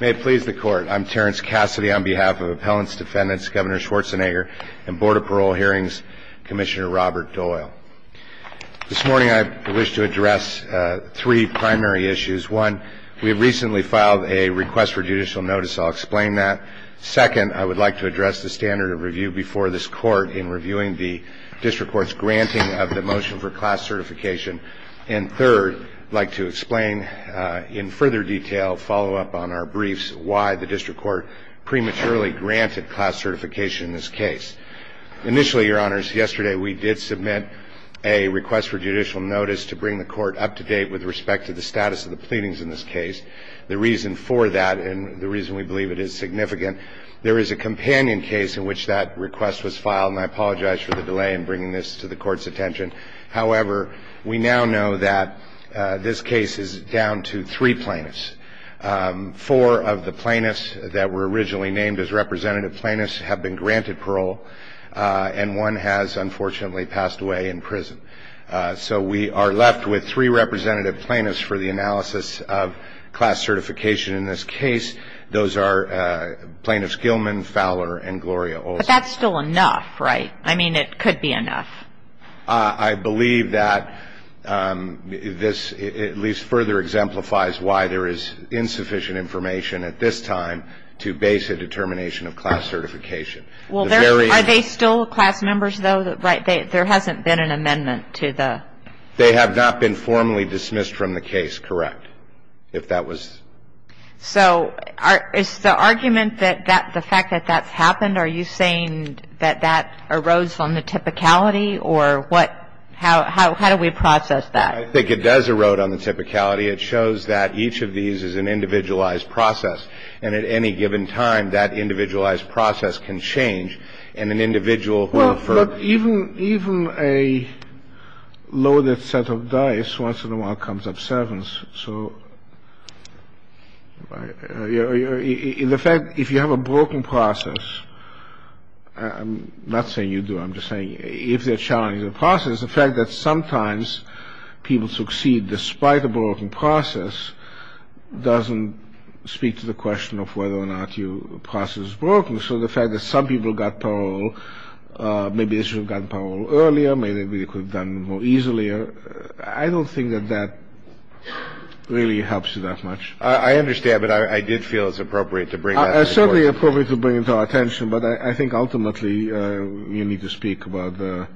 May it please the Court, I'm Terrence Cassidy on behalf of Appellants, Defendants, Governor Schwarzenegger, and Board of Parole Hearings Commissioner Robert Doyle. This morning I wish to address three primary issues. One, we have recently filed a request for judicial notice. I'll explain that. Second, I would like to address the standard of review before this Court in reviewing the District Court's granting of the motion for class certification. And third, I'd like to explain in further detail, follow up on our briefs, why the District Court prematurely granted class certification in this case. Initially, Your Honors, yesterday we did submit a request for judicial notice to bring the Court up to date with respect to the status of the pleadings in this case. The reason for that and the reason we believe it is significant, there is a companion case in which that request was filed, and I apologize for the delay in bringing this to the Court's attention. However, we now know that this case is down to three plaintiffs. Four of the plaintiffs that were originally named as representative plaintiffs have been granted parole, and one has unfortunately passed away in prison. So we are left with three representative plaintiffs for the analysis of class certification in this case. Those are Plaintiffs Gilman, Fowler, and Gloria Olson. But that's still enough, right? I mean, it could be enough. I believe that this at least further exemplifies why there is insufficient information at this time to base a determination of class certification. Well, are they still class members, though? There hasn't been an amendment to the... They have not been formally dismissed from the case, correct, if that was... So is the argument that the fact that that's happened, are you saying that that erodes on the typicality, or what? How do we process that? I think it does erode on the typicality. It shows that each of these is an individualized process. And at any given time, that individualized process can change, and an individual... But even a loaded set of dice once in a while comes up sevens. So the fact, if you have a broken process, I'm not saying you do, I'm just saying, if they're challenging the process, the fact that sometimes people succeed despite a broken process doesn't speak to the question of whether or not your process is broken. So the fact that some people got parole, maybe they should have gotten parole earlier, maybe they could have done it more easily, I don't think that that really helps you that much. I understand, but I did feel it's appropriate to bring that up. It's certainly appropriate to bring it to our attention, but I think ultimately you need to speak about the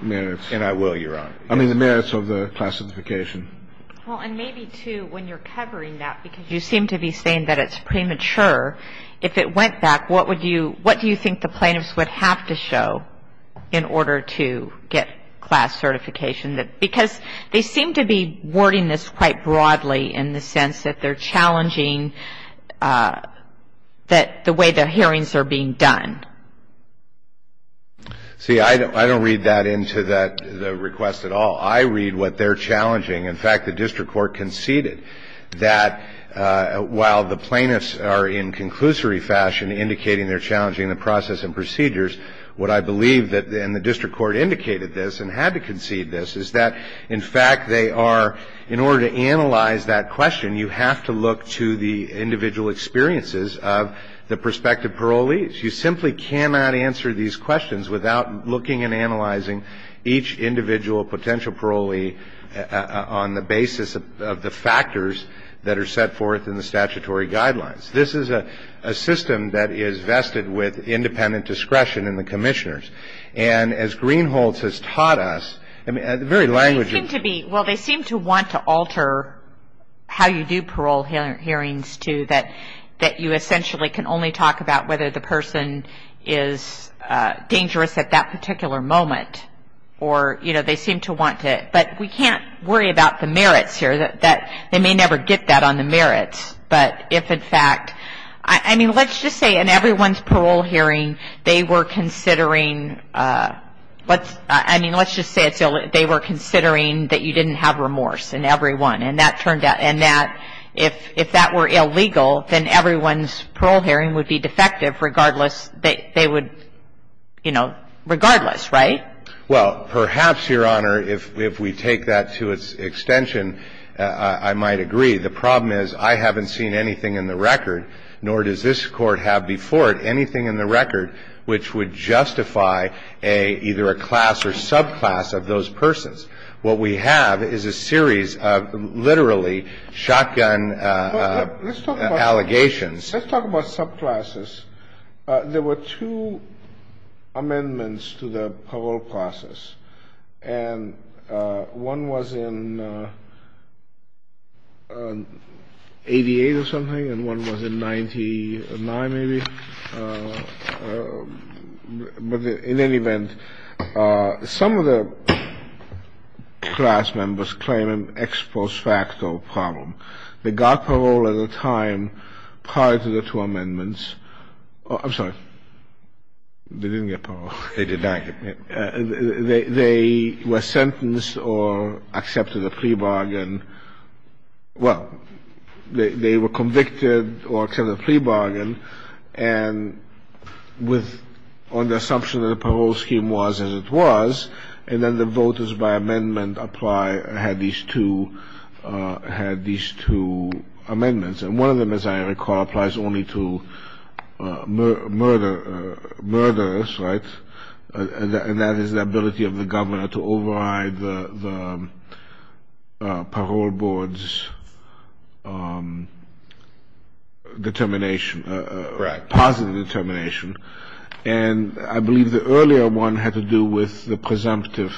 merits. And I will, Your Honor. I mean, the merits of the class certification. Well, and maybe, too, when you're covering that, because you seem to be saying that it's premature, if it went back, what do you think the plaintiffs would have to show in order to get class certification? Because they seem to be wording this quite broadly in the sense that they're challenging the way the hearings are being done. See, I don't read that into the request at all. I read what they're challenging. In fact, the district court conceded that while the plaintiffs are in conclusory fashion indicating they're challenging the process and procedures, what I believe, and the district court indicated this and had to concede this, is that in fact they are, in order to analyze that question, you have to look to the individual experiences of the prospective parolees. You simply cannot answer these questions without looking and analyzing each individual potential parolee on the basis of the factors that are set forth in the statutory guidelines. This is a system that is vested with independent discretion in the commissioners. And as Greenholz has taught us, I mean, the very language of it. Well, they seem to want to alter how you do parole hearings, too, that you essentially can only talk about whether the person is dangerous at that particular moment. Or, you know, they seem to want to. But we can't worry about the merits here. They may never get that on the merits. But if, in fact, I mean, let's just say in everyone's parole hearing they were considering, I mean, let's just say they were considering that you didn't have remorse in everyone. And that turned out. And that if that were illegal, then everyone's parole hearing would be defective regardless that they would, you know, regardless, right? Well, perhaps, Your Honor, if we take that to its extension, I might agree. The problem is I haven't seen anything in the record, nor does this Court have before it anything in the record which would justify either a class or subclass of those persons. What we have is a series of literally shotgun allegations. Let's talk about subclasses. There were two amendments to the parole process. And one was in 88 or something, and one was in 99 maybe. But in any event, some of the class members claim an ex post facto problem. They got parole at a time prior to the two amendments. I'm sorry. They didn't get parole. They did not get parole. They were sentenced or accepted a plea bargain. Well, they were convicted or accepted a plea bargain. And on the assumption that the parole scheme was as it was, and then the voters by amendment had these two amendments. And one of them, as I recall, applies only to murderers, right? And that is the ability of the governor to override the parole board's determination, positive determination. And I believe the earlier one had to do with the presumptive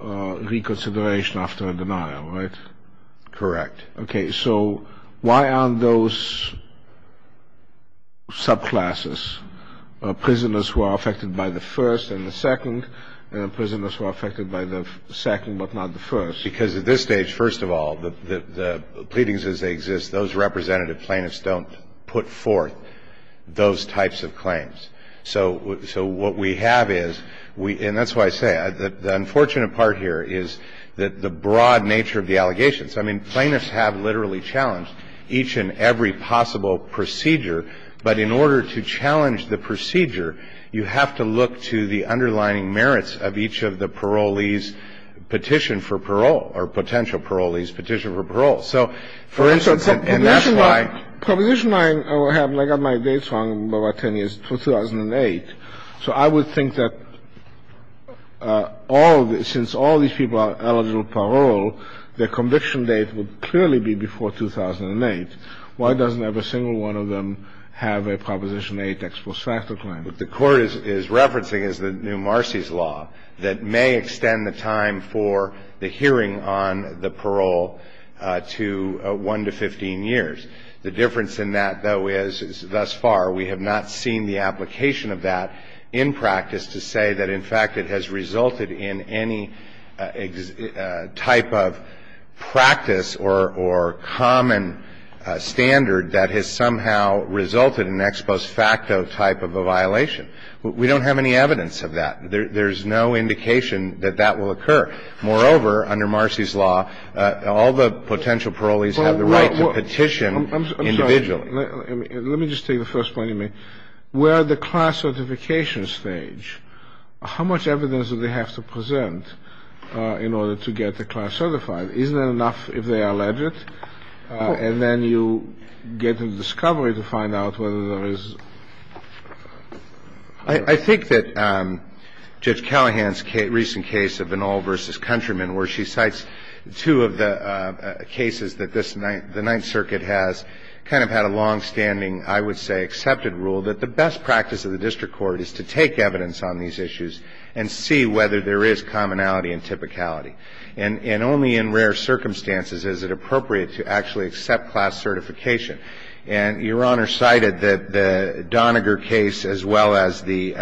reconsideration after a denial, right? Correct. Okay. So why aren't those subclasses prisoners who are affected by the first and the second and prisoners who are affected by the second but not the first? Because at this stage, first of all, the pleadings as they exist, those representative plaintiffs don't put forth those types of claims. So what we have is, and that's why I say, the unfortunate part here is that the broad nature of the allegations. I mean, plaintiffs have literally challenged each and every possible procedure. But in order to challenge the procedure, you have to look to the underlying merits of each of the parolees' petition for parole or potential parolees' petition for parole. So, for instance, and that's why — Proposition 9 I have, and I got my dates wrong by about 10 years, 2008. So I would think that all — since all these people are eligible for parole, their conviction date would clearly be before 2008. Why doesn't every single one of them have a Proposition 8 ex post facto claim? What the Court is referencing is the new Marcy's law that may extend the time for the hearing on the parole to 1 to 15 years. The difference in that, though, is thus far we have not seen the application of that in practice to say that, in fact, it has resulted in any type of practice or common standard that has somehow resulted in an ex post facto type of a violation. We don't have any evidence of that. There's no indication that that will occur. Moreover, under Marcy's law, all the potential parolees have the right to petition individually. I'm sorry. Let me just take the first point you made. Where are the class certification stage? How much evidence do they have to present in order to get the class certified? Isn't that enough if they are alleged? And then you get the discovery to find out whether there is — I think that Judge Callahan's recent case of Van All versus Countryman, where she cites two of the cases that the Ninth Circuit has kind of had a longstanding, I would say, accepted rule that the best practice of the district court is to take evidence on these issues and see whether there is commonality and typicality. And only in rare circumstances is it appropriate to actually accept class certification. And Your Honor cited the Doniger case as well as the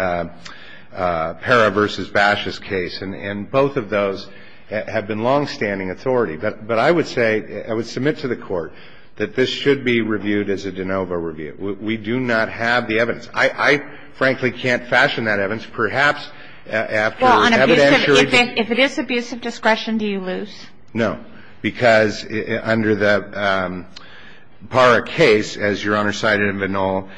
Parra versus Bashes case. And both of those have been longstanding authority. But I would say, I would submit to the Court that this should be reviewed as a de novo review. We do not have the evidence. I frankly can't fashion that evidence. Perhaps after evidentiary — Well, if it is abusive discretion, do you lose? No. Because under the Parra case, as Your Honor cited in Van All,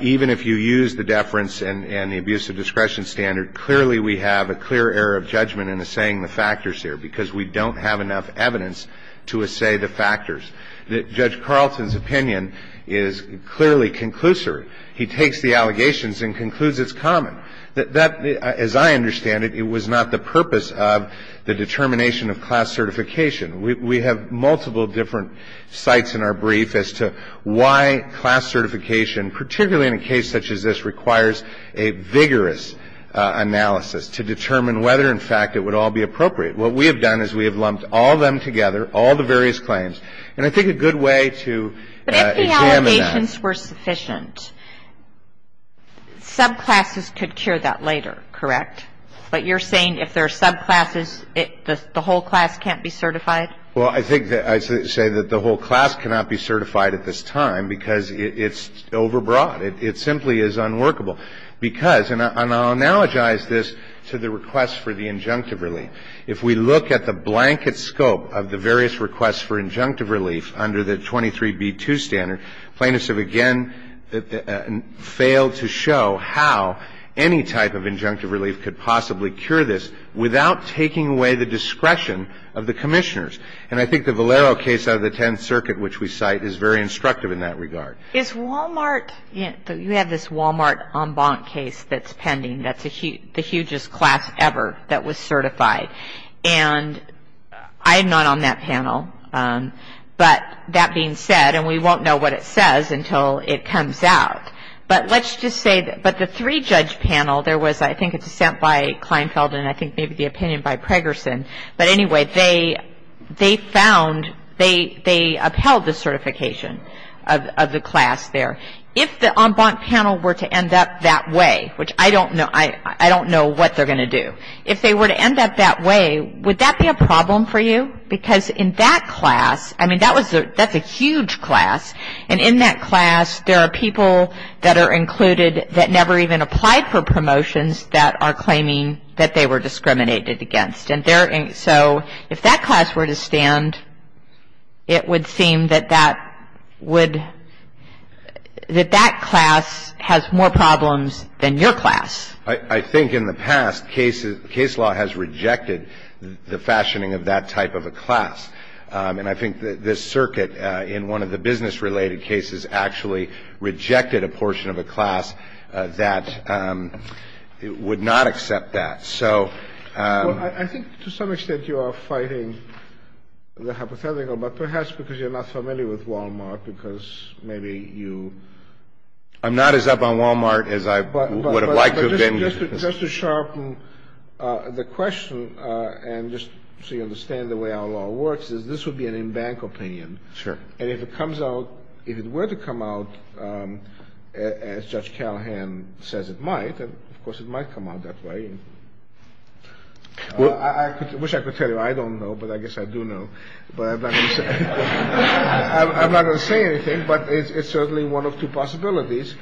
even if you use the deference and the abusive discretion standard, clearly we have a clear error of judgment in assaying the factors here because we don't have enough evidence to assay the factors. Judge Carlton's opinion is clearly conclusory. He takes the allegations and concludes it's common. That, as I understand it, it was not the purpose of the determination of class certification. We have multiple different sites in our brief as to why class certification, particularly in a case such as this, requires a vigorous analysis to determine whether, in fact, it would all be appropriate. What we have done is we have lumped all of them together, all the various claims, and I think a good way to examine that — But if the allegations were sufficient, subclasses could cure that later, correct? But you're saying if there are subclasses, the whole class can't be certified? Well, I think that — I say that the whole class cannot be certified at this time because it's overbroad. It simply is unworkable because — and I'll analogize this to the request for the injunctive relief. If we look at the blanket scope of the various requests for injunctive relief under the 23b2 standard, plaintiffs have again failed to show how any type of injunctive relief could possibly cure this without taking away the discretion of the commissioners. And I think the Valero case out of the Tenth Circuit, which we cite, is very instructive in that regard. Is Walmart — you have this Walmart en banc case that's pending that's the hugest class ever that was certified. And I'm not on that panel. But that being said, and we won't know what it says until it comes out, but let's just say that — I think it's sent by Kleinfeld and I think maybe the opinion by Pregerson. But anyway, they found — they upheld the certification of the class there. If the en banc panel were to end up that way, which I don't know what they're going to do, if they were to end up that way, would that be a problem for you? Because in that class — I mean, that's a huge class. And in that class there are people that are included that never even applied for promotions that are claiming that they were discriminated against. And so if that class were to stand, it would seem that that would — that that class has more problems than your class. I think in the past case law has rejected the fashioning of that type of a class. And I think this circuit in one of the business-related cases actually rejected a portion of a class that would not accept that. So — Well, I think to some extent you are fighting the hypothetical, but perhaps because you're not familiar with Wal-Mart, because maybe you — I'm not as up on Wal-Mart as I would have liked to have been. Just to sharpen the question, and just so you understand the way our law works, is this would be an en banc opinion. Sure. And if it comes out — if it were to come out, as Judge Callahan says it might — and, of course, it might come out that way. I wish I could tell you. I don't know, but I guess I do know. But I'm not going to say anything, but it's certainly one of two possibilities.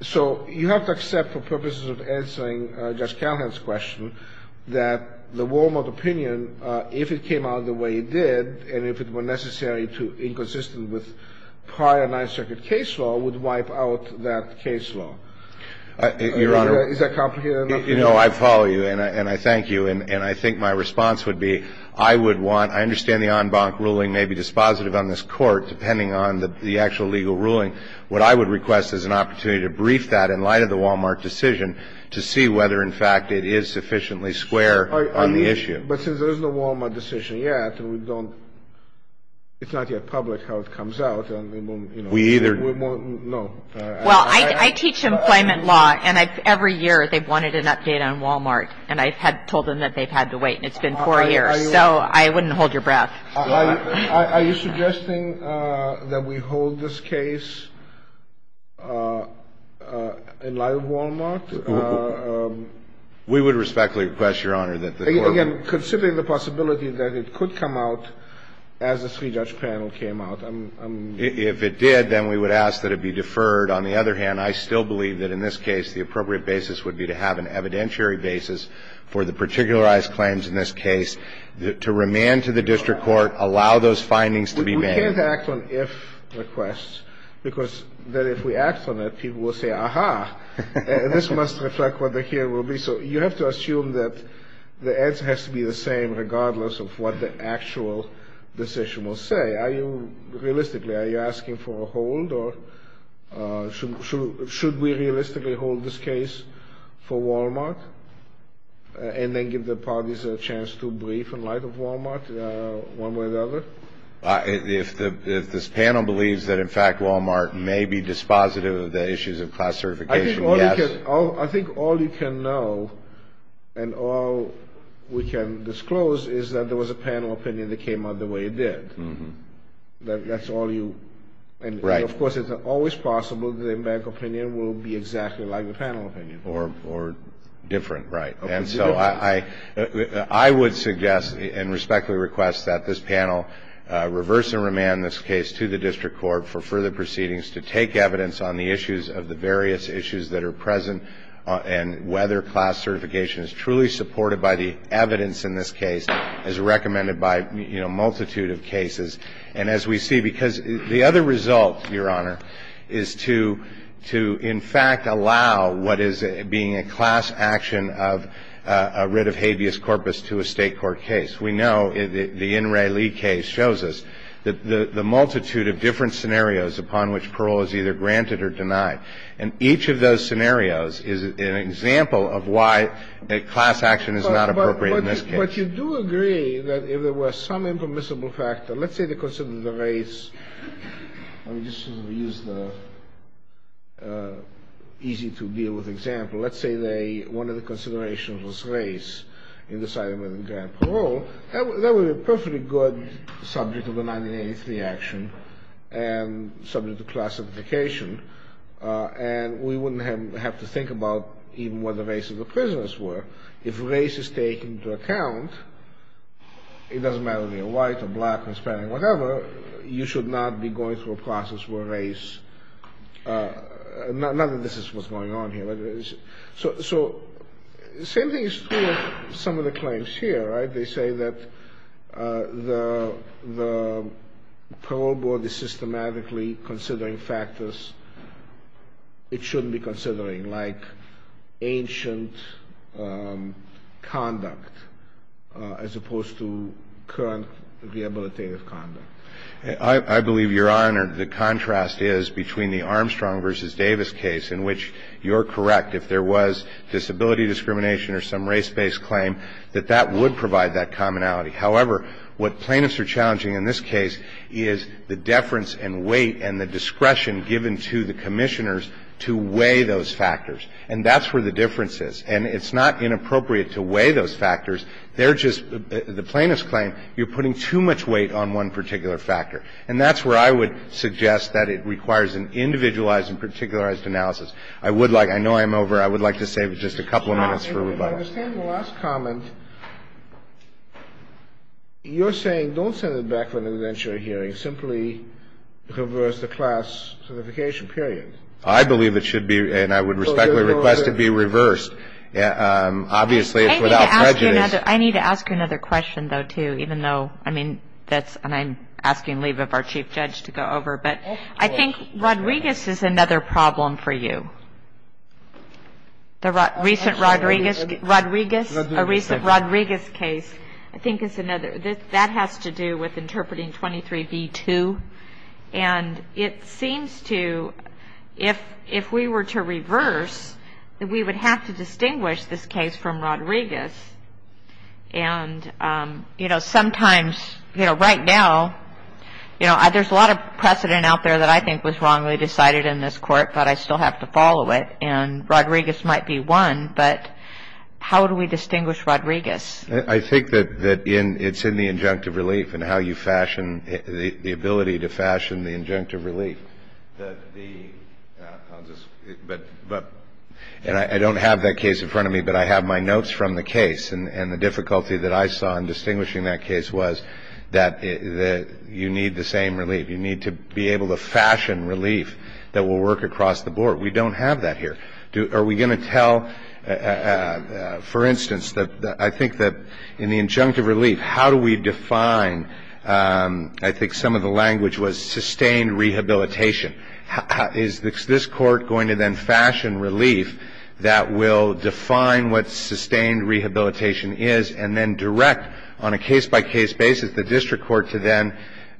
So you have to accept for purposes of answering Judge Callahan's question that the Wal-Mart opinion, if it came out the way it did and if it were necessary to inconsistent with prior Ninth Circuit case law, would wipe out that case law. Your Honor — Is that complicated enough? You know, I follow you, and I thank you. And I think my response would be I would want — I understand the en banc ruling may be dispositive on this Court, depending on the actual legal ruling. What I would request is an opportunity to brief that in light of the Wal-Mart decision to see whether, in fact, it is sufficiently square on the issue. But since there is no Wal-Mart decision yet, and we don't — it's not yet public how it comes out, and we won't — We either — No. Well, I teach employment law, and every year they've wanted an update on Wal-Mart. And I've told them that they've had to wait, and it's been four years. So I wouldn't hold your breath. Are you suggesting that we hold this case in light of Wal-Mart? We would respectfully request, Your Honor, that the Court — Again, considering the possibility that it could come out as a three-judge panel came out, I'm — If it did, then we would ask that it be deferred. On the other hand, I still believe that in this case the appropriate basis would be to have an evidentiary basis for the particularized claims in this case, to remand to the district court, allow those findings to be made. We can't act on if requests, because then if we act on it, people will say, aha, this must reflect what the hearing will be. So you have to assume that the answer has to be the same regardless of what the actual decision will say. Are you — realistically, are you asking for a hold, or should we realistically hold this case for Wal-Mart and then give the parties a chance to brief in light of Wal-Mart one way or the other? If this panel believes that, in fact, Wal-Mart may be dispositive of the issues of class certification, yes. I think all you can know and all we can disclose is that there was a panel opinion that came out the way it did. Mm-hmm. That's all you — Right. Of course, it's always possible that the American opinion will be exactly like the panel opinion. Or different, right. And so I would suggest and respectfully request that this panel reverse and remand this case to the district court for further proceedings to take evidence on the issues of the various issues that are present and whether class certification is truly supported by the evidence in this case as recommended by, you know, a multitude of cases. And as we see, because the other result, Your Honor, is to — to, in fact, allow what is being a class action of a writ of habeas corpus to a State court case. We know — the N. Ray Lee case shows us that the multitude of different scenarios upon which parole is either granted or denied, and each of those scenarios is an example of why a class action is not appropriate in this case. But you do agree that if there were some impermissible factor — let's say they considered the race. Let me just use the easy-to-deal-with example. Let's say they — one of the considerations was race in deciding whether to grant parole. That would be a perfectly good subject of the 1983 action and subject to class certification, and we wouldn't have to think about even what the race of the prisoners were. If race is taken into account, it doesn't matter whether you're white or black or Hispanic or whatever, you should not be going through a process where race — not that this is what's going on here. So the same thing is true of some of the claims here, right? They say that the parole board is systematically considering factors it shouldn't be considering, like ancient conduct as opposed to current rehabilitative conduct. I believe, Your Honor, the contrast is between the Armstrong v. Davis case, in which you're correct if there was disability discrimination or some race-based claim, that that would provide that commonality. However, what plaintiffs are challenging in this case is the deference and weight and the discretion given to the commissioners to weigh those factors. And that's where the difference is. And it's not inappropriate to weigh those factors. They're just — the plaintiffs claim you're putting too much weight on one particular factor. And that's where I would suggest that it requires an individualized and particularized analysis. I would like — I know I'm over. I would like to save just a couple of minutes for rebuttals. I understand the last comment. You're saying don't send it back for an indentury hearing. Simply reverse the class certification, period. I believe it should be, and I would respectfully request it be reversed. Obviously, it's without prejudice. I need to ask you another question, though, too, even though, I mean, that's — and I'm asking leave of our chief judge to go over. But I think Rodriguez is another problem for you. The recent Rodriguez case, I think is another. That has to do with interpreting 23b-2. And it seems to — if we were to reverse, we would have to distinguish this case from Rodriguez. And, you know, sometimes, you know, right now, you know, there's a lot of precedent out there that I think was wrongly decided in this court, but I still have to follow it, and Rodriguez might be one. But how do we distinguish Rodriguez? I think that it's in the injunctive relief and how you fashion — the ability to fashion the injunctive relief. That the — and I don't have that case in front of me, but I have my notes from the case. And the difficulty that I saw in distinguishing that case was that you need the same relief. You need to be able to fashion relief that will work across the board. We don't have that here. Are we going to tell — for instance, I think that in the injunctive relief, how do we define — I think some of the language was sustained rehabilitation. Is this court going to then fashion relief that will define what sustained rehabilitation is and then direct on a case-by-case basis the district court to then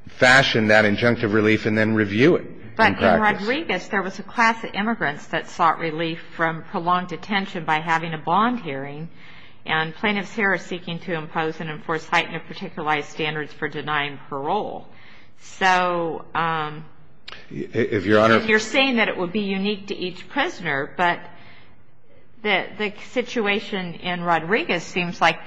fashion that injunctive relief and then review it? But in Rodriguez, there was a class of immigrants that sought relief from prolonged detention by having a bond hearing. And plaintiffs here are seeking to impose and enforce heightened or particularized standards for denying parole. So if you're saying that it would be unique to each prisoner, but the situation in Rodriguez seems like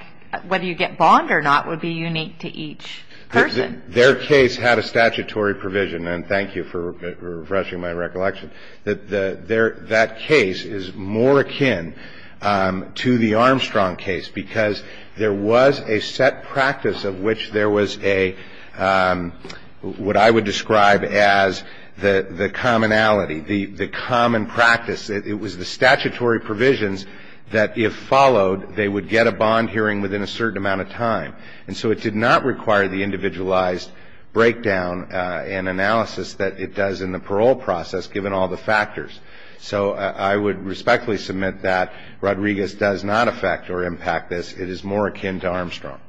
whether you get bond or not would be unique to each person. Their case had a statutory provision, and thank you for refreshing my recollection, that that case is more akin to the Armstrong case because there was a set practice of which there was a — what I would describe as the commonality, the common practice. It was the statutory provisions that if followed, they would get a bond hearing within a certain amount of time. And so it did not require the individualized breakdown and analysis that it does in the parole process, given all the factors. So I would respectfully submit that Rodriguez does not affect or impact this. It is more akin to Armstrong.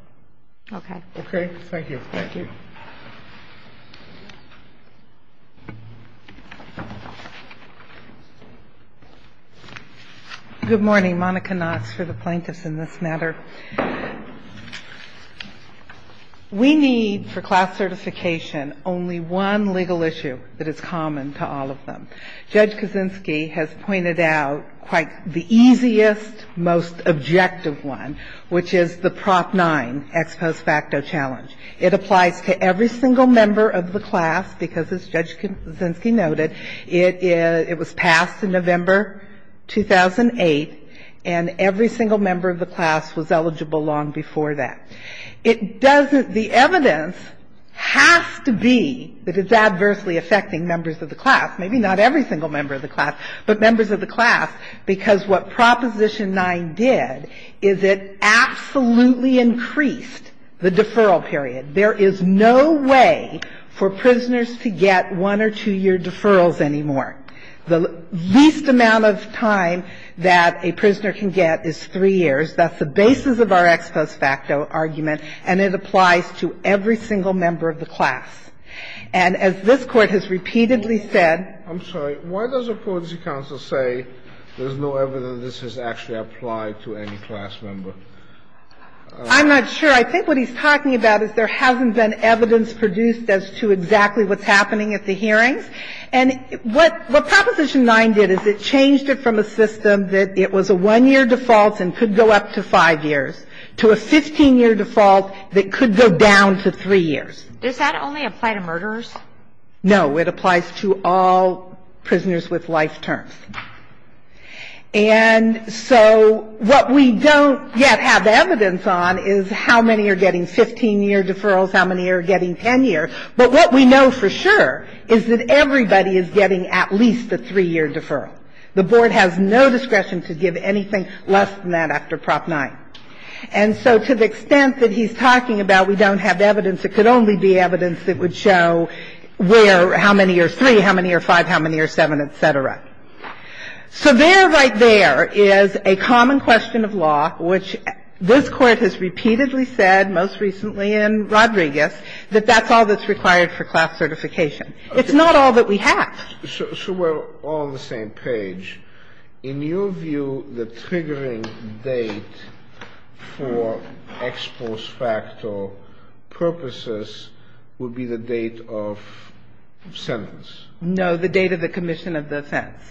Okay. Okay. Thank you. Thank you. Good morning. Monica Knox for the plaintiffs in this matter. We need for class certification only one legal issue that is common to all of them. Judge Kaczynski has pointed out quite the easiest, most objective one, which is the Prop 9, ex post facto challenge. It applies to every single member of the class because, as Judge Kaczynski noted, it was passed in November 2008, and every single member of the class was eligible long before that. It doesn't — the evidence has to be that it's adversely affecting members of the class, maybe not every single member of the class, but members of the class, because what I'm trying to say is there is no way for prisoners to get one- or two-year deferrals anymore. The least amount of time that a prisoner can get is three years. That's the basis of our ex post facto argument, and it applies to every single member of the class. And as this Court has repeatedly said — I'm sorry. Why does the Policy Council say there's no evidence that this has actually applied to any class member? I'm not sure. I think what he's talking about is there hasn't been evidence produced as to exactly what's happening at the hearings. And what Proposition 9 did is it changed it from a system that it was a one-year default and could go up to five years to a 15-year default that could go down to three years. Does that only apply to murderers? No. It applies to all prisoners with life terms. And so what we don't yet have evidence on is how many are getting 15-year deferrals, how many are getting 10-year. But what we know for sure is that everybody is getting at least a three-year deferral. The Board has no discretion to give anything less than that after Prop 9. And so to the extent that he's talking about we don't have evidence, it could only be evidence that would show where how many are three, how many are five, how many are seven, et cetera. So there right there is a common question of law which this Court has repeatedly said, most recently in Rodriguez, that that's all that's required for class certification. It's not all that we have. So we're all on the same page. In your view, the triggering date for ex post facto purposes would be the date of sentence? No, the date of the commission of the offense.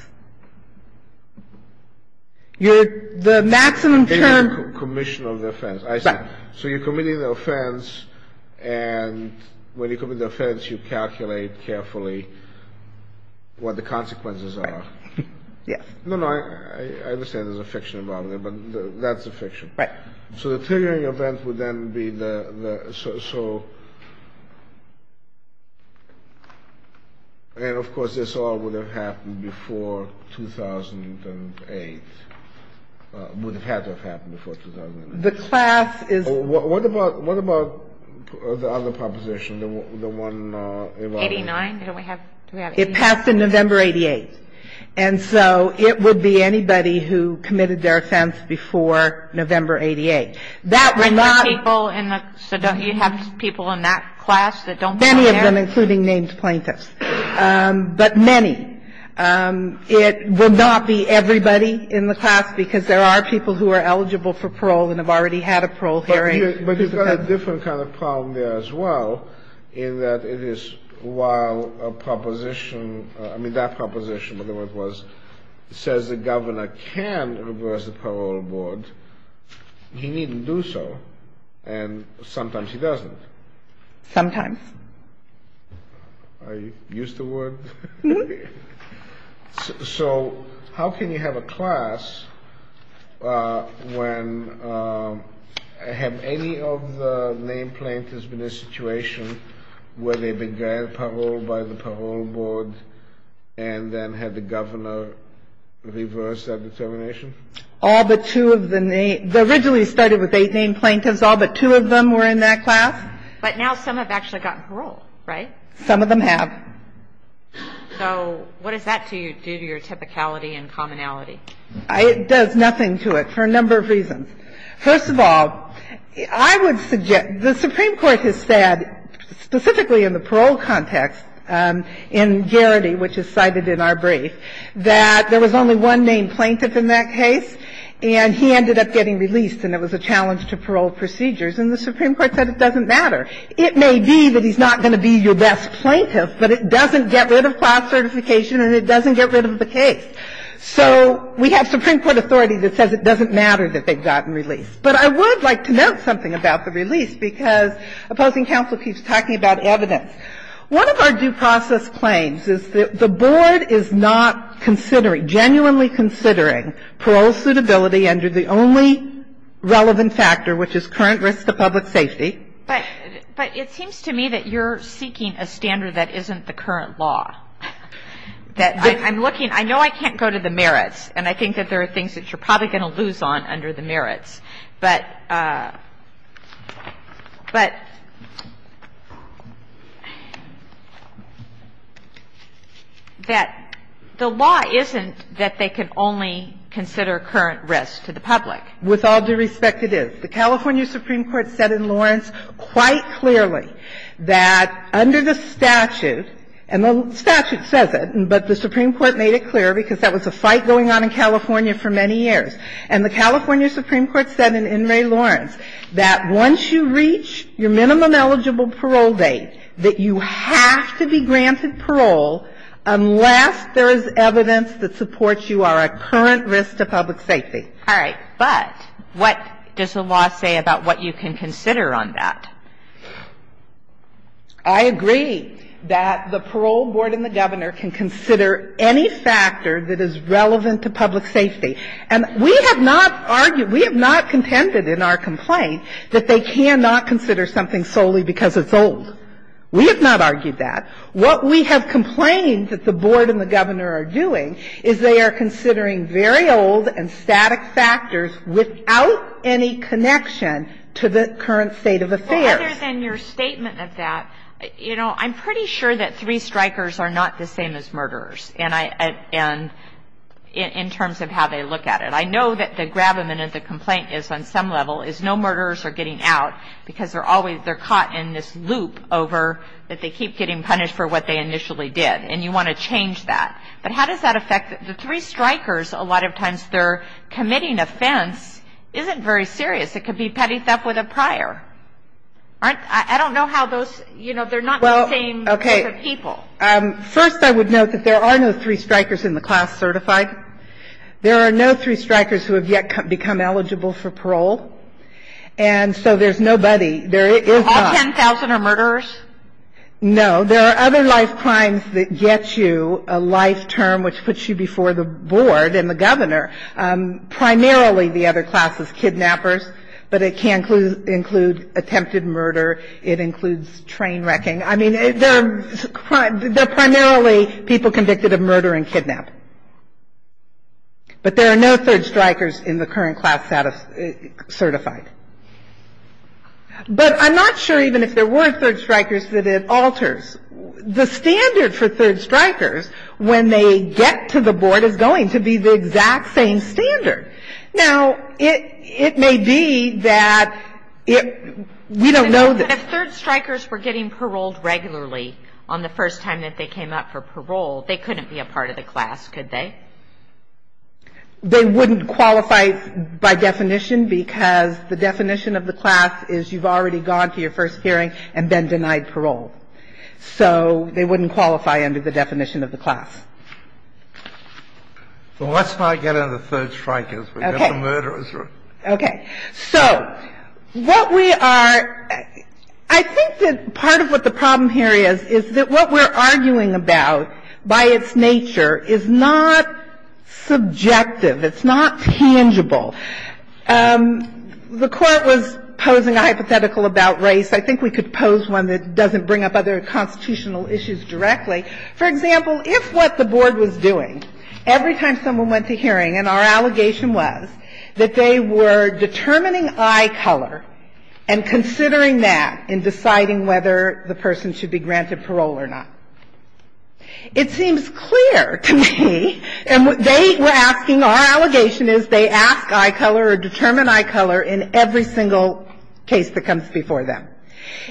The maximum term. Commission of the offense. Right. So you're committing the offense, and when you commit the offense, you calculate carefully what the consequences are. Yes. No, no. I understand there's a fiction involved there, but that's a fiction. Right. So the triggering event would then be the so, and of course, this all would have happened before 2008, would have had to have happened before 2008. The class is. What about, what about the other proposition, the one involving. 89? Do we have 89? It passed in November 88. And so it would be anybody who committed their offense before November 88. That would not. So don't you have people in that class that don't belong there? Many of them, including named plaintiffs. But many. It would not be everybody in the class, because there are people who are eligible for parole and have already had a parole hearing. But you've got a different kind of problem there as well, in that it is while a proposition, I mean, that proposition, whatever it was, says the governor can reverse the parole board, he needn't do so. And sometimes he doesn't. Sometimes. Are you used to the word? No. Okay. So how can you have a class when, have any of the named plaintiffs been in a situation where they began parole by the parole board and then had the governor reverse that determination? All but two of the named, they originally started with eight named plaintiffs. All but two of them were in that class. But now some have actually gotten parole, right? Some of them have. So what does that do to your typicality and commonality? It does nothing to it for a number of reasons. First of all, I would suggest, the Supreme Court has said, specifically in the parole context, in Garrity, which is cited in our brief, that there was only one named plaintiff in that case, and he ended up getting released, and it was a challenge to parole procedures. And the Supreme Court said it doesn't matter. It may be that he's not going to be your best plaintiff, but it doesn't get rid of class certification and it doesn't get rid of the case. So we have Supreme Court authority that says it doesn't matter that they've gotten released. But I would like to note something about the release because opposing counsel keeps talking about evidence. One of our due process claims is that the board is not considering, genuinely considering, parole suitability under the only relevant factor, which is current risk to public safety. But it seems to me that you're seeking a standard that isn't the current law. That I'm looking – I know I can't go to the merits, and I think that there are things that you're probably going to lose on under the merits. But the law isn't that they can only consider current risk to the public. With all due respect, it is. The California Supreme Court said in Lawrence quite clearly that under the statute – and the statute says it, but the Supreme Court made it clear because that was a fight going on in California for many years. And the California Supreme Court said in In re Lawrence that once you reach your minimum eligible parole date, that you have to be granted parole unless there is evidence that supports you are at current risk to public safety. All right. But what does the law say about what you can consider on that? I agree that the parole board and the governor can consider any factor that is relevant to public safety. And we have not argued – we have not contended in our complaint that they cannot consider something solely because it's old. We have not argued that. What we have complained that the board and the governor are doing is they are considering very old and static factors without any connection to the current state of affairs. Well, other than your statement of that, you know, I'm pretty sure that three strikers are not the same as murderers, and I – and in terms of how they look at it. I know that the gravamen of the complaint is on some level is no murderers are getting out because they're always – they're caught in this loop over that they keep getting punished for what they initially did. And you want to change that. But how does that affect – the three strikers, a lot of times their committing offense isn't very serious. It could be petty theft with a prior. Aren't – I don't know how those – you know, they're not the same group of people. Well, okay. First, I would note that there are no three strikers in the class certified. There are no three strikers who have yet become eligible for parole. And so there's nobody – there is not. All 10,000 are murderers? No. There are other life crimes that get you a life term which puts you before the board and the governor. Primarily, the other class is kidnappers, but it can include attempted murder. It includes train wrecking. I mean, there are – they're primarily people convicted of murder and kidnap. But there are no third strikers in the current class certified. But I'm not sure even if there were third strikers that it alters. The standard for third strikers when they get to the board is going to be the exact same standard. Now, it may be that it – we don't know that. But if third strikers were getting paroled regularly on the first time that they came up for parole, they couldn't be a part of the class, could they? They wouldn't qualify by definition because the definition of the class is you've already gone to your first hearing and been denied parole. So they wouldn't qualify under the definition of the class. Well, let's not get into third strikers. Okay. We've got the murderers. Okay. So what we are – I think that part of what the problem here is, is that what we're arguing about by its nature is not subjective. It's not tangible. The Court was posing a hypothetical about race. I think we could pose one that doesn't bring up other constitutional issues directly. For example, if what the board was doing, every time someone went to hearing and our allegation was that they were determining eye color and considering that in deciding whether the person should be granted parole or not. It seems clear to me, and what they were asking, our allegation is they ask eye color or determine eye color in every single case that comes before them.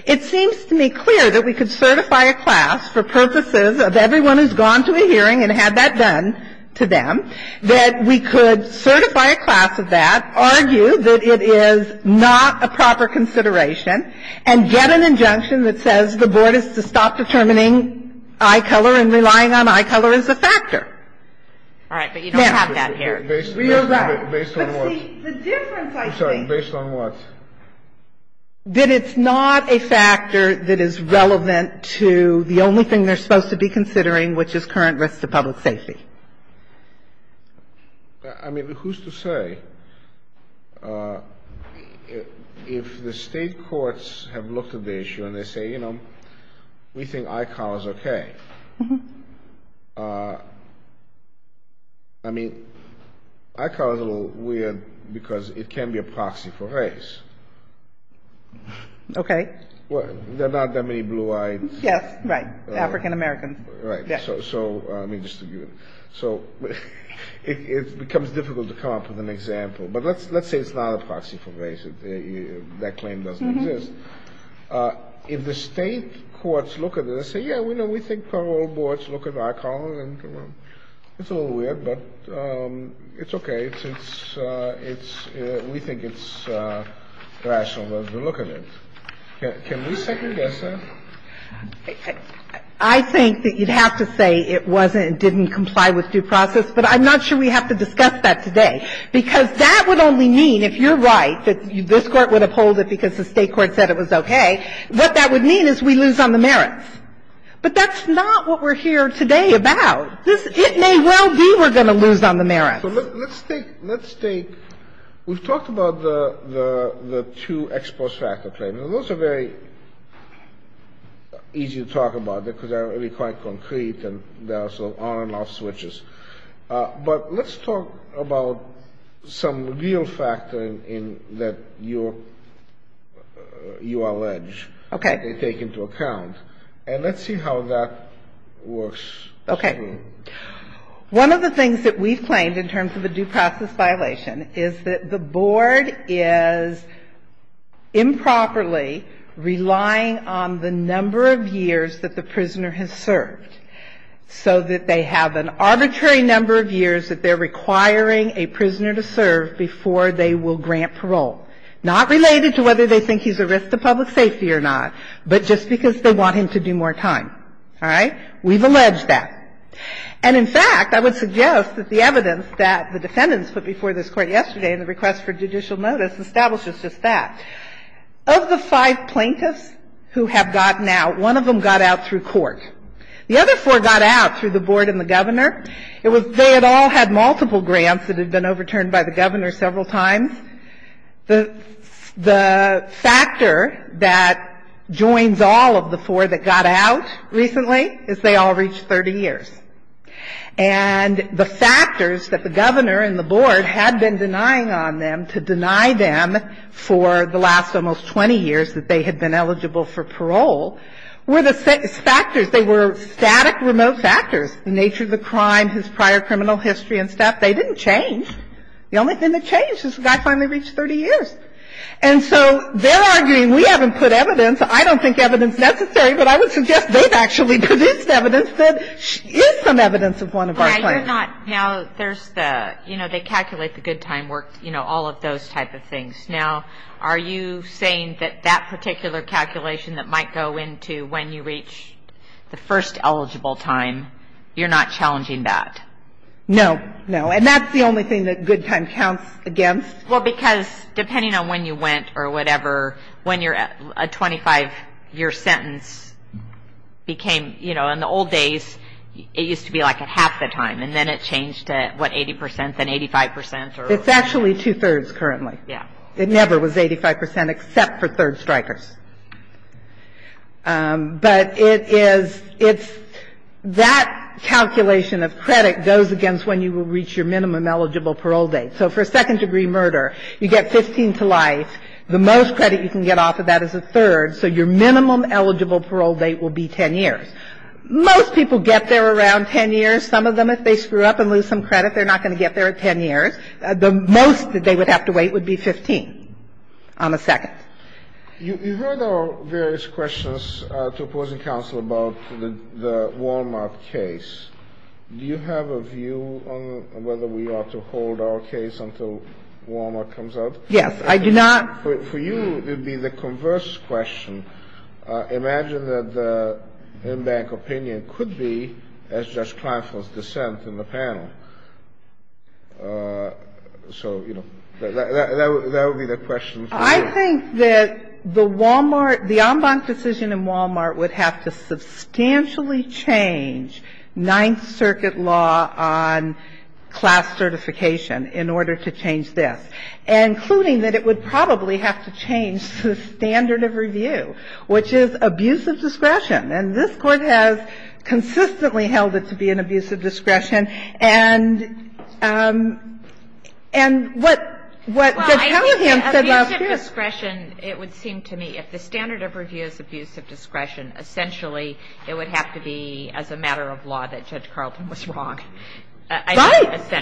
It seems to me clear that we could certify a class for purposes of everyone who's gone to a hearing and had that done to them, that we could certify a class of that, argue that it is not a proper consideration, and get an injunction that says the board is to stop determining eye color and relying on eye color as a factor. All right. But you don't have that here. Based on what? Based on what? The difference, I think. I'm sorry. Based on what? That it's not a factor that is relevant to the only thing they're supposed to be considering, which is current risks to public safety. I mean, who's to say? If the state courts have looked at the issue and they say, you know, we think eye color is okay. I mean, eye color is a little weird because it can be a proxy for race. Okay. There are not that many blue eyes. Yes. Right. African-Americans. Right. So it becomes difficult to come up with an example. But let's say it's not a proxy for race. That claim doesn't exist. If the state courts look at it and say, yeah, we think parole boards look at eye color and, you know, it's a little weird, but it's okay. We think it's rational to look at it. Can we second guess that? I think that you'd have to say it wasn't and didn't comply with due process, but I'm not sure we have to discuss that today, because that would only mean, if you're right, that this Court would uphold it because the state court said it was okay. What that would mean is we lose on the merits. But that's not what we're here today about. It may well be we're going to lose on the merits. So let's take we've talked about the two X plus factor claims. Now, those are very easy to talk about because they're really quite concrete and there are some on and off switches. But let's talk about some real factor in that you allege. Okay. They take into account. And let's see how that works. Okay. One of the things that we've claimed in terms of a due process violation is that the board is improperly relying on the number of years that the prisoner has served so that they have an arbitrary number of years that they're requiring a prisoner to serve before they will grant parole. Not related to whether they think he's a risk to public safety or not, but just because they want him to do more time. All right? We've alleged that. And in fact, I would suggest that the evidence that the defendants put before this Court yesterday in the request for judicial notice establishes just that. Of the five plaintiffs who have gotten out, one of them got out through court. The other four got out through the board and the governor. They had all had multiple grants that had been overturned by the governor several times. The factor that joins all of the four that got out recently is they all reached 30 years. And the factors that the governor and the board had been denying on them to deny them for the last almost 20 years that they had been eligible for parole were the factors. They were static, remote factors. The nature of the crime, his prior criminal history and stuff, they didn't change. The only thing that changed is the guy finally reached 30 years. And so they're arguing we haven't put evidence. I don't think evidence is necessary, but I would suggest they've actually produced evidence that is some evidence of one of our claims. Now, there's the, you know, they calculate the good time worked, you know, all of those type of things. Now, are you saying that that particular calculation that might go into when you reach the first eligible time, you're not challenging that? No. No. And that's the only thing that good time counts against? Well, because depending on when you went or whatever, when you're at a 25-year sentence became, you know, in the old days it used to be like at half the time. And then it changed to, what, 80 percent, then 85 percent? It's actually two-thirds currently. Yeah. It never was 85 percent except for third strikers. But it is, it's, that calculation of credit goes against when you will reach your minimum eligible parole date. So for a second-degree murder, you get 15 to life. The most credit you can get off of that is a third, so your minimum eligible parole date will be 10 years. Most people get there around 10 years. Some of them, if they screw up and lose some credit, they're not going to get there at 10 years. The most that they would have to wait would be 15 on the second. You heard our various questions to opposing counsel about the Wal-Mart case. Do you have a view on whether we ought to hold our case until Wal-Mart comes out? Yes. I do not. For you, it would be the converse question. Imagine that the in-bank opinion could be as Judge Kleinfeld's dissent in the panel. So, you know, that would be the question for you. I think that the Wal-Mart, the en banc decision in Wal-Mart would have to substantially change Ninth Circuit law on class certification in order to change this, including that it would probably have to change the standard of review, which is abusive discretion. And this Court has consistently held it to be an abusive discretion. And what Judge Callahan said last year was this. Well, I think that abusive discretion, it would seem to me, if the standard of review is abusive discretion, essentially it would have to be as a matter of law that Judge Carlton was wrong. Right.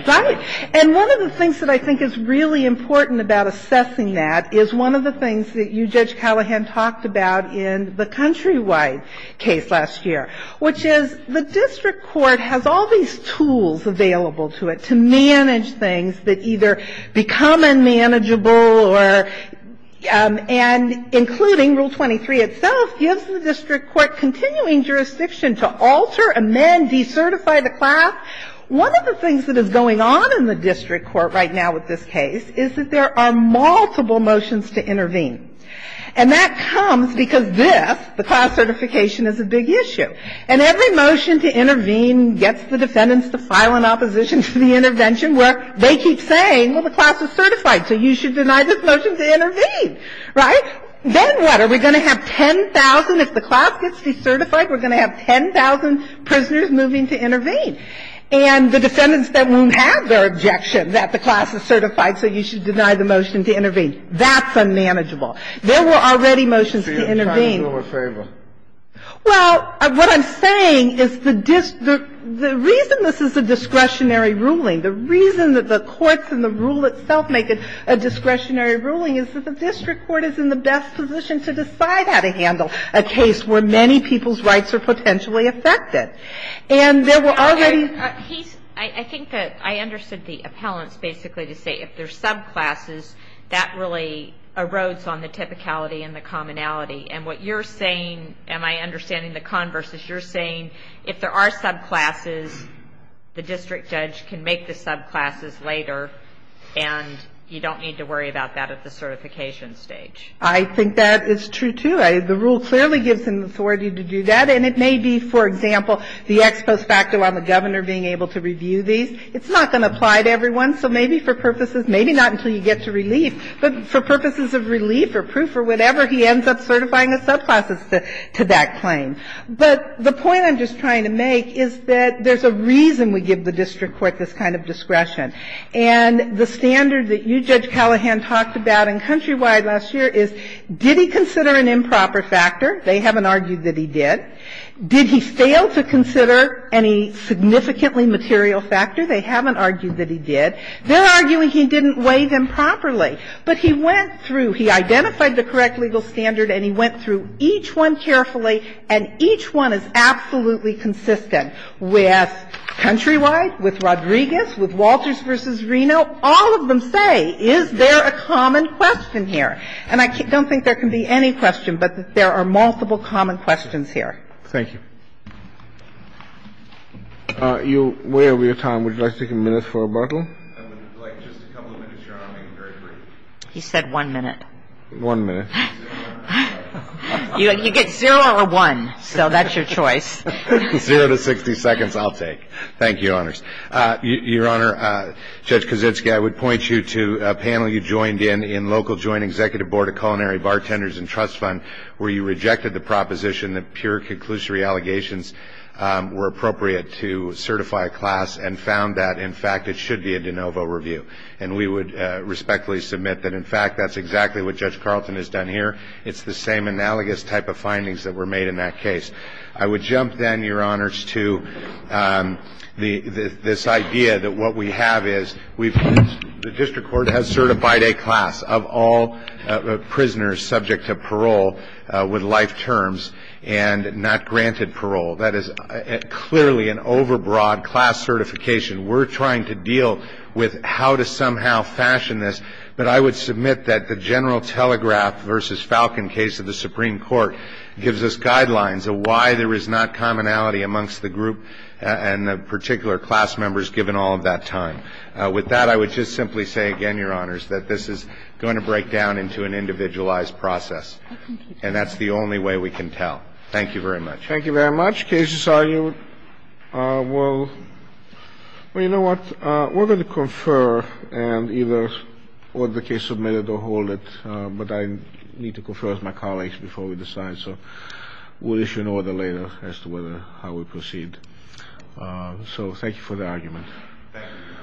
And one of the things that I think is really important about assessing that is one of the things that you, Judge Callahan, talked about in the country-wide case last year, which is the district court has all these tools available to it to manage things that either become unmanageable or, and including Rule 23 itself, gives the district court continuing jurisdiction to alter, amend, decertify the class. One of the things that is going on in the district court right now with this case is that there are multiple motions to intervene. And that comes because this, the class certification, is a big issue. And every motion to intervene gets the defendants to file an opposition to the intervention where they keep saying, well, the class is certified, so you should deny this motion to intervene, right? Then what? Are we going to have 10,000? If the class gets decertified, we're going to have 10,000 prisoners moving to intervene. And the defendants then won't have their objection that the class is certified, so you should deny the motion to intervene. That's unmanageable. There were already motions to intervene. Kennedy, I'm trying to do them a favor. Well, what I'm saying is the district, the reason this is a discretionary ruling, the reason that the courts and the rule itself make it a discretionary ruling is that the district court is in the best position to decide how to handle a case where many people's rights are potentially affected. And there were already ---- I think that I understood the appellants basically to say if there's subclasses, that really erodes on the typicality and the commonality. And what you're saying, am I understanding the converse, is you're saying if there are subclasses, the district judge can make the subclasses later, and you don't need to worry about that at the certification stage. I think that is true, too. The rule clearly gives them authority to do that. And it may be, for example, the ex post facto on the governor being able to review these. It's not going to apply to everyone. So maybe for purposes, maybe not until you get to relief, but for purposes of relief or proof or whatever, he ends up certifying the subclasses to that claim. But the point I'm just trying to make is that there's a reason we give the district court this kind of discretion. And the standard that you, Judge Callahan, talked about in Countrywide last year is did he consider an improper factor? They haven't argued that he did. Did he fail to consider any significantly material factor? They haven't argued that he did. They're arguing he didn't weigh them properly. But he went through, he identified the correct legal standard, and he went through each one carefully, and each one is absolutely consistent with Countrywide, with Rodriguez, with Walters v. Reno. All of them say, is there a common question here? And I don't think there can be any question, but there are multiple common questions here. Thank you. You're way over your time. Would you like to take a minute for rebuttal? I would like just a couple of minutes, Your Honor, maybe very briefly. He said one minute. One minute. You get zero or one, so that's your choice. Zero to 60 seconds, I'll take. Thank you, Your Honors. Your Honor, Judge Kaczynski, I would point you to a panel you joined in, in local joint executive board of culinary bartenders and trust fund, where you rejected the proposition that pure conclusory allegations were appropriate to certify a class and found that, in fact, it should be a de novo review. And we would respectfully submit that, in fact, that's exactly what Judge Carlton has done here. It's the same analogous type of findings that were made in that case. I would jump then, Your Honors, to this idea that what we have is the district court that has certified a class of all prisoners subject to parole with life terms and not granted parole. That is clearly an overbroad class certification. We're trying to deal with how to somehow fashion this. But I would submit that the general telegraph versus Falcon case of the Supreme Court gives us guidelines of why there is not commonality amongst the group and the particular class members given all of that time. With that, I would just simply say again, Your Honors, that this is going to break down into an individualized process. And that's the only way we can tell. Thank you very much. Thank you very much. The case is argued. Well, you know what? We're going to confer and either hold the case submitted or hold it. But I need to confer with my colleagues before we decide. So thank you for the argument.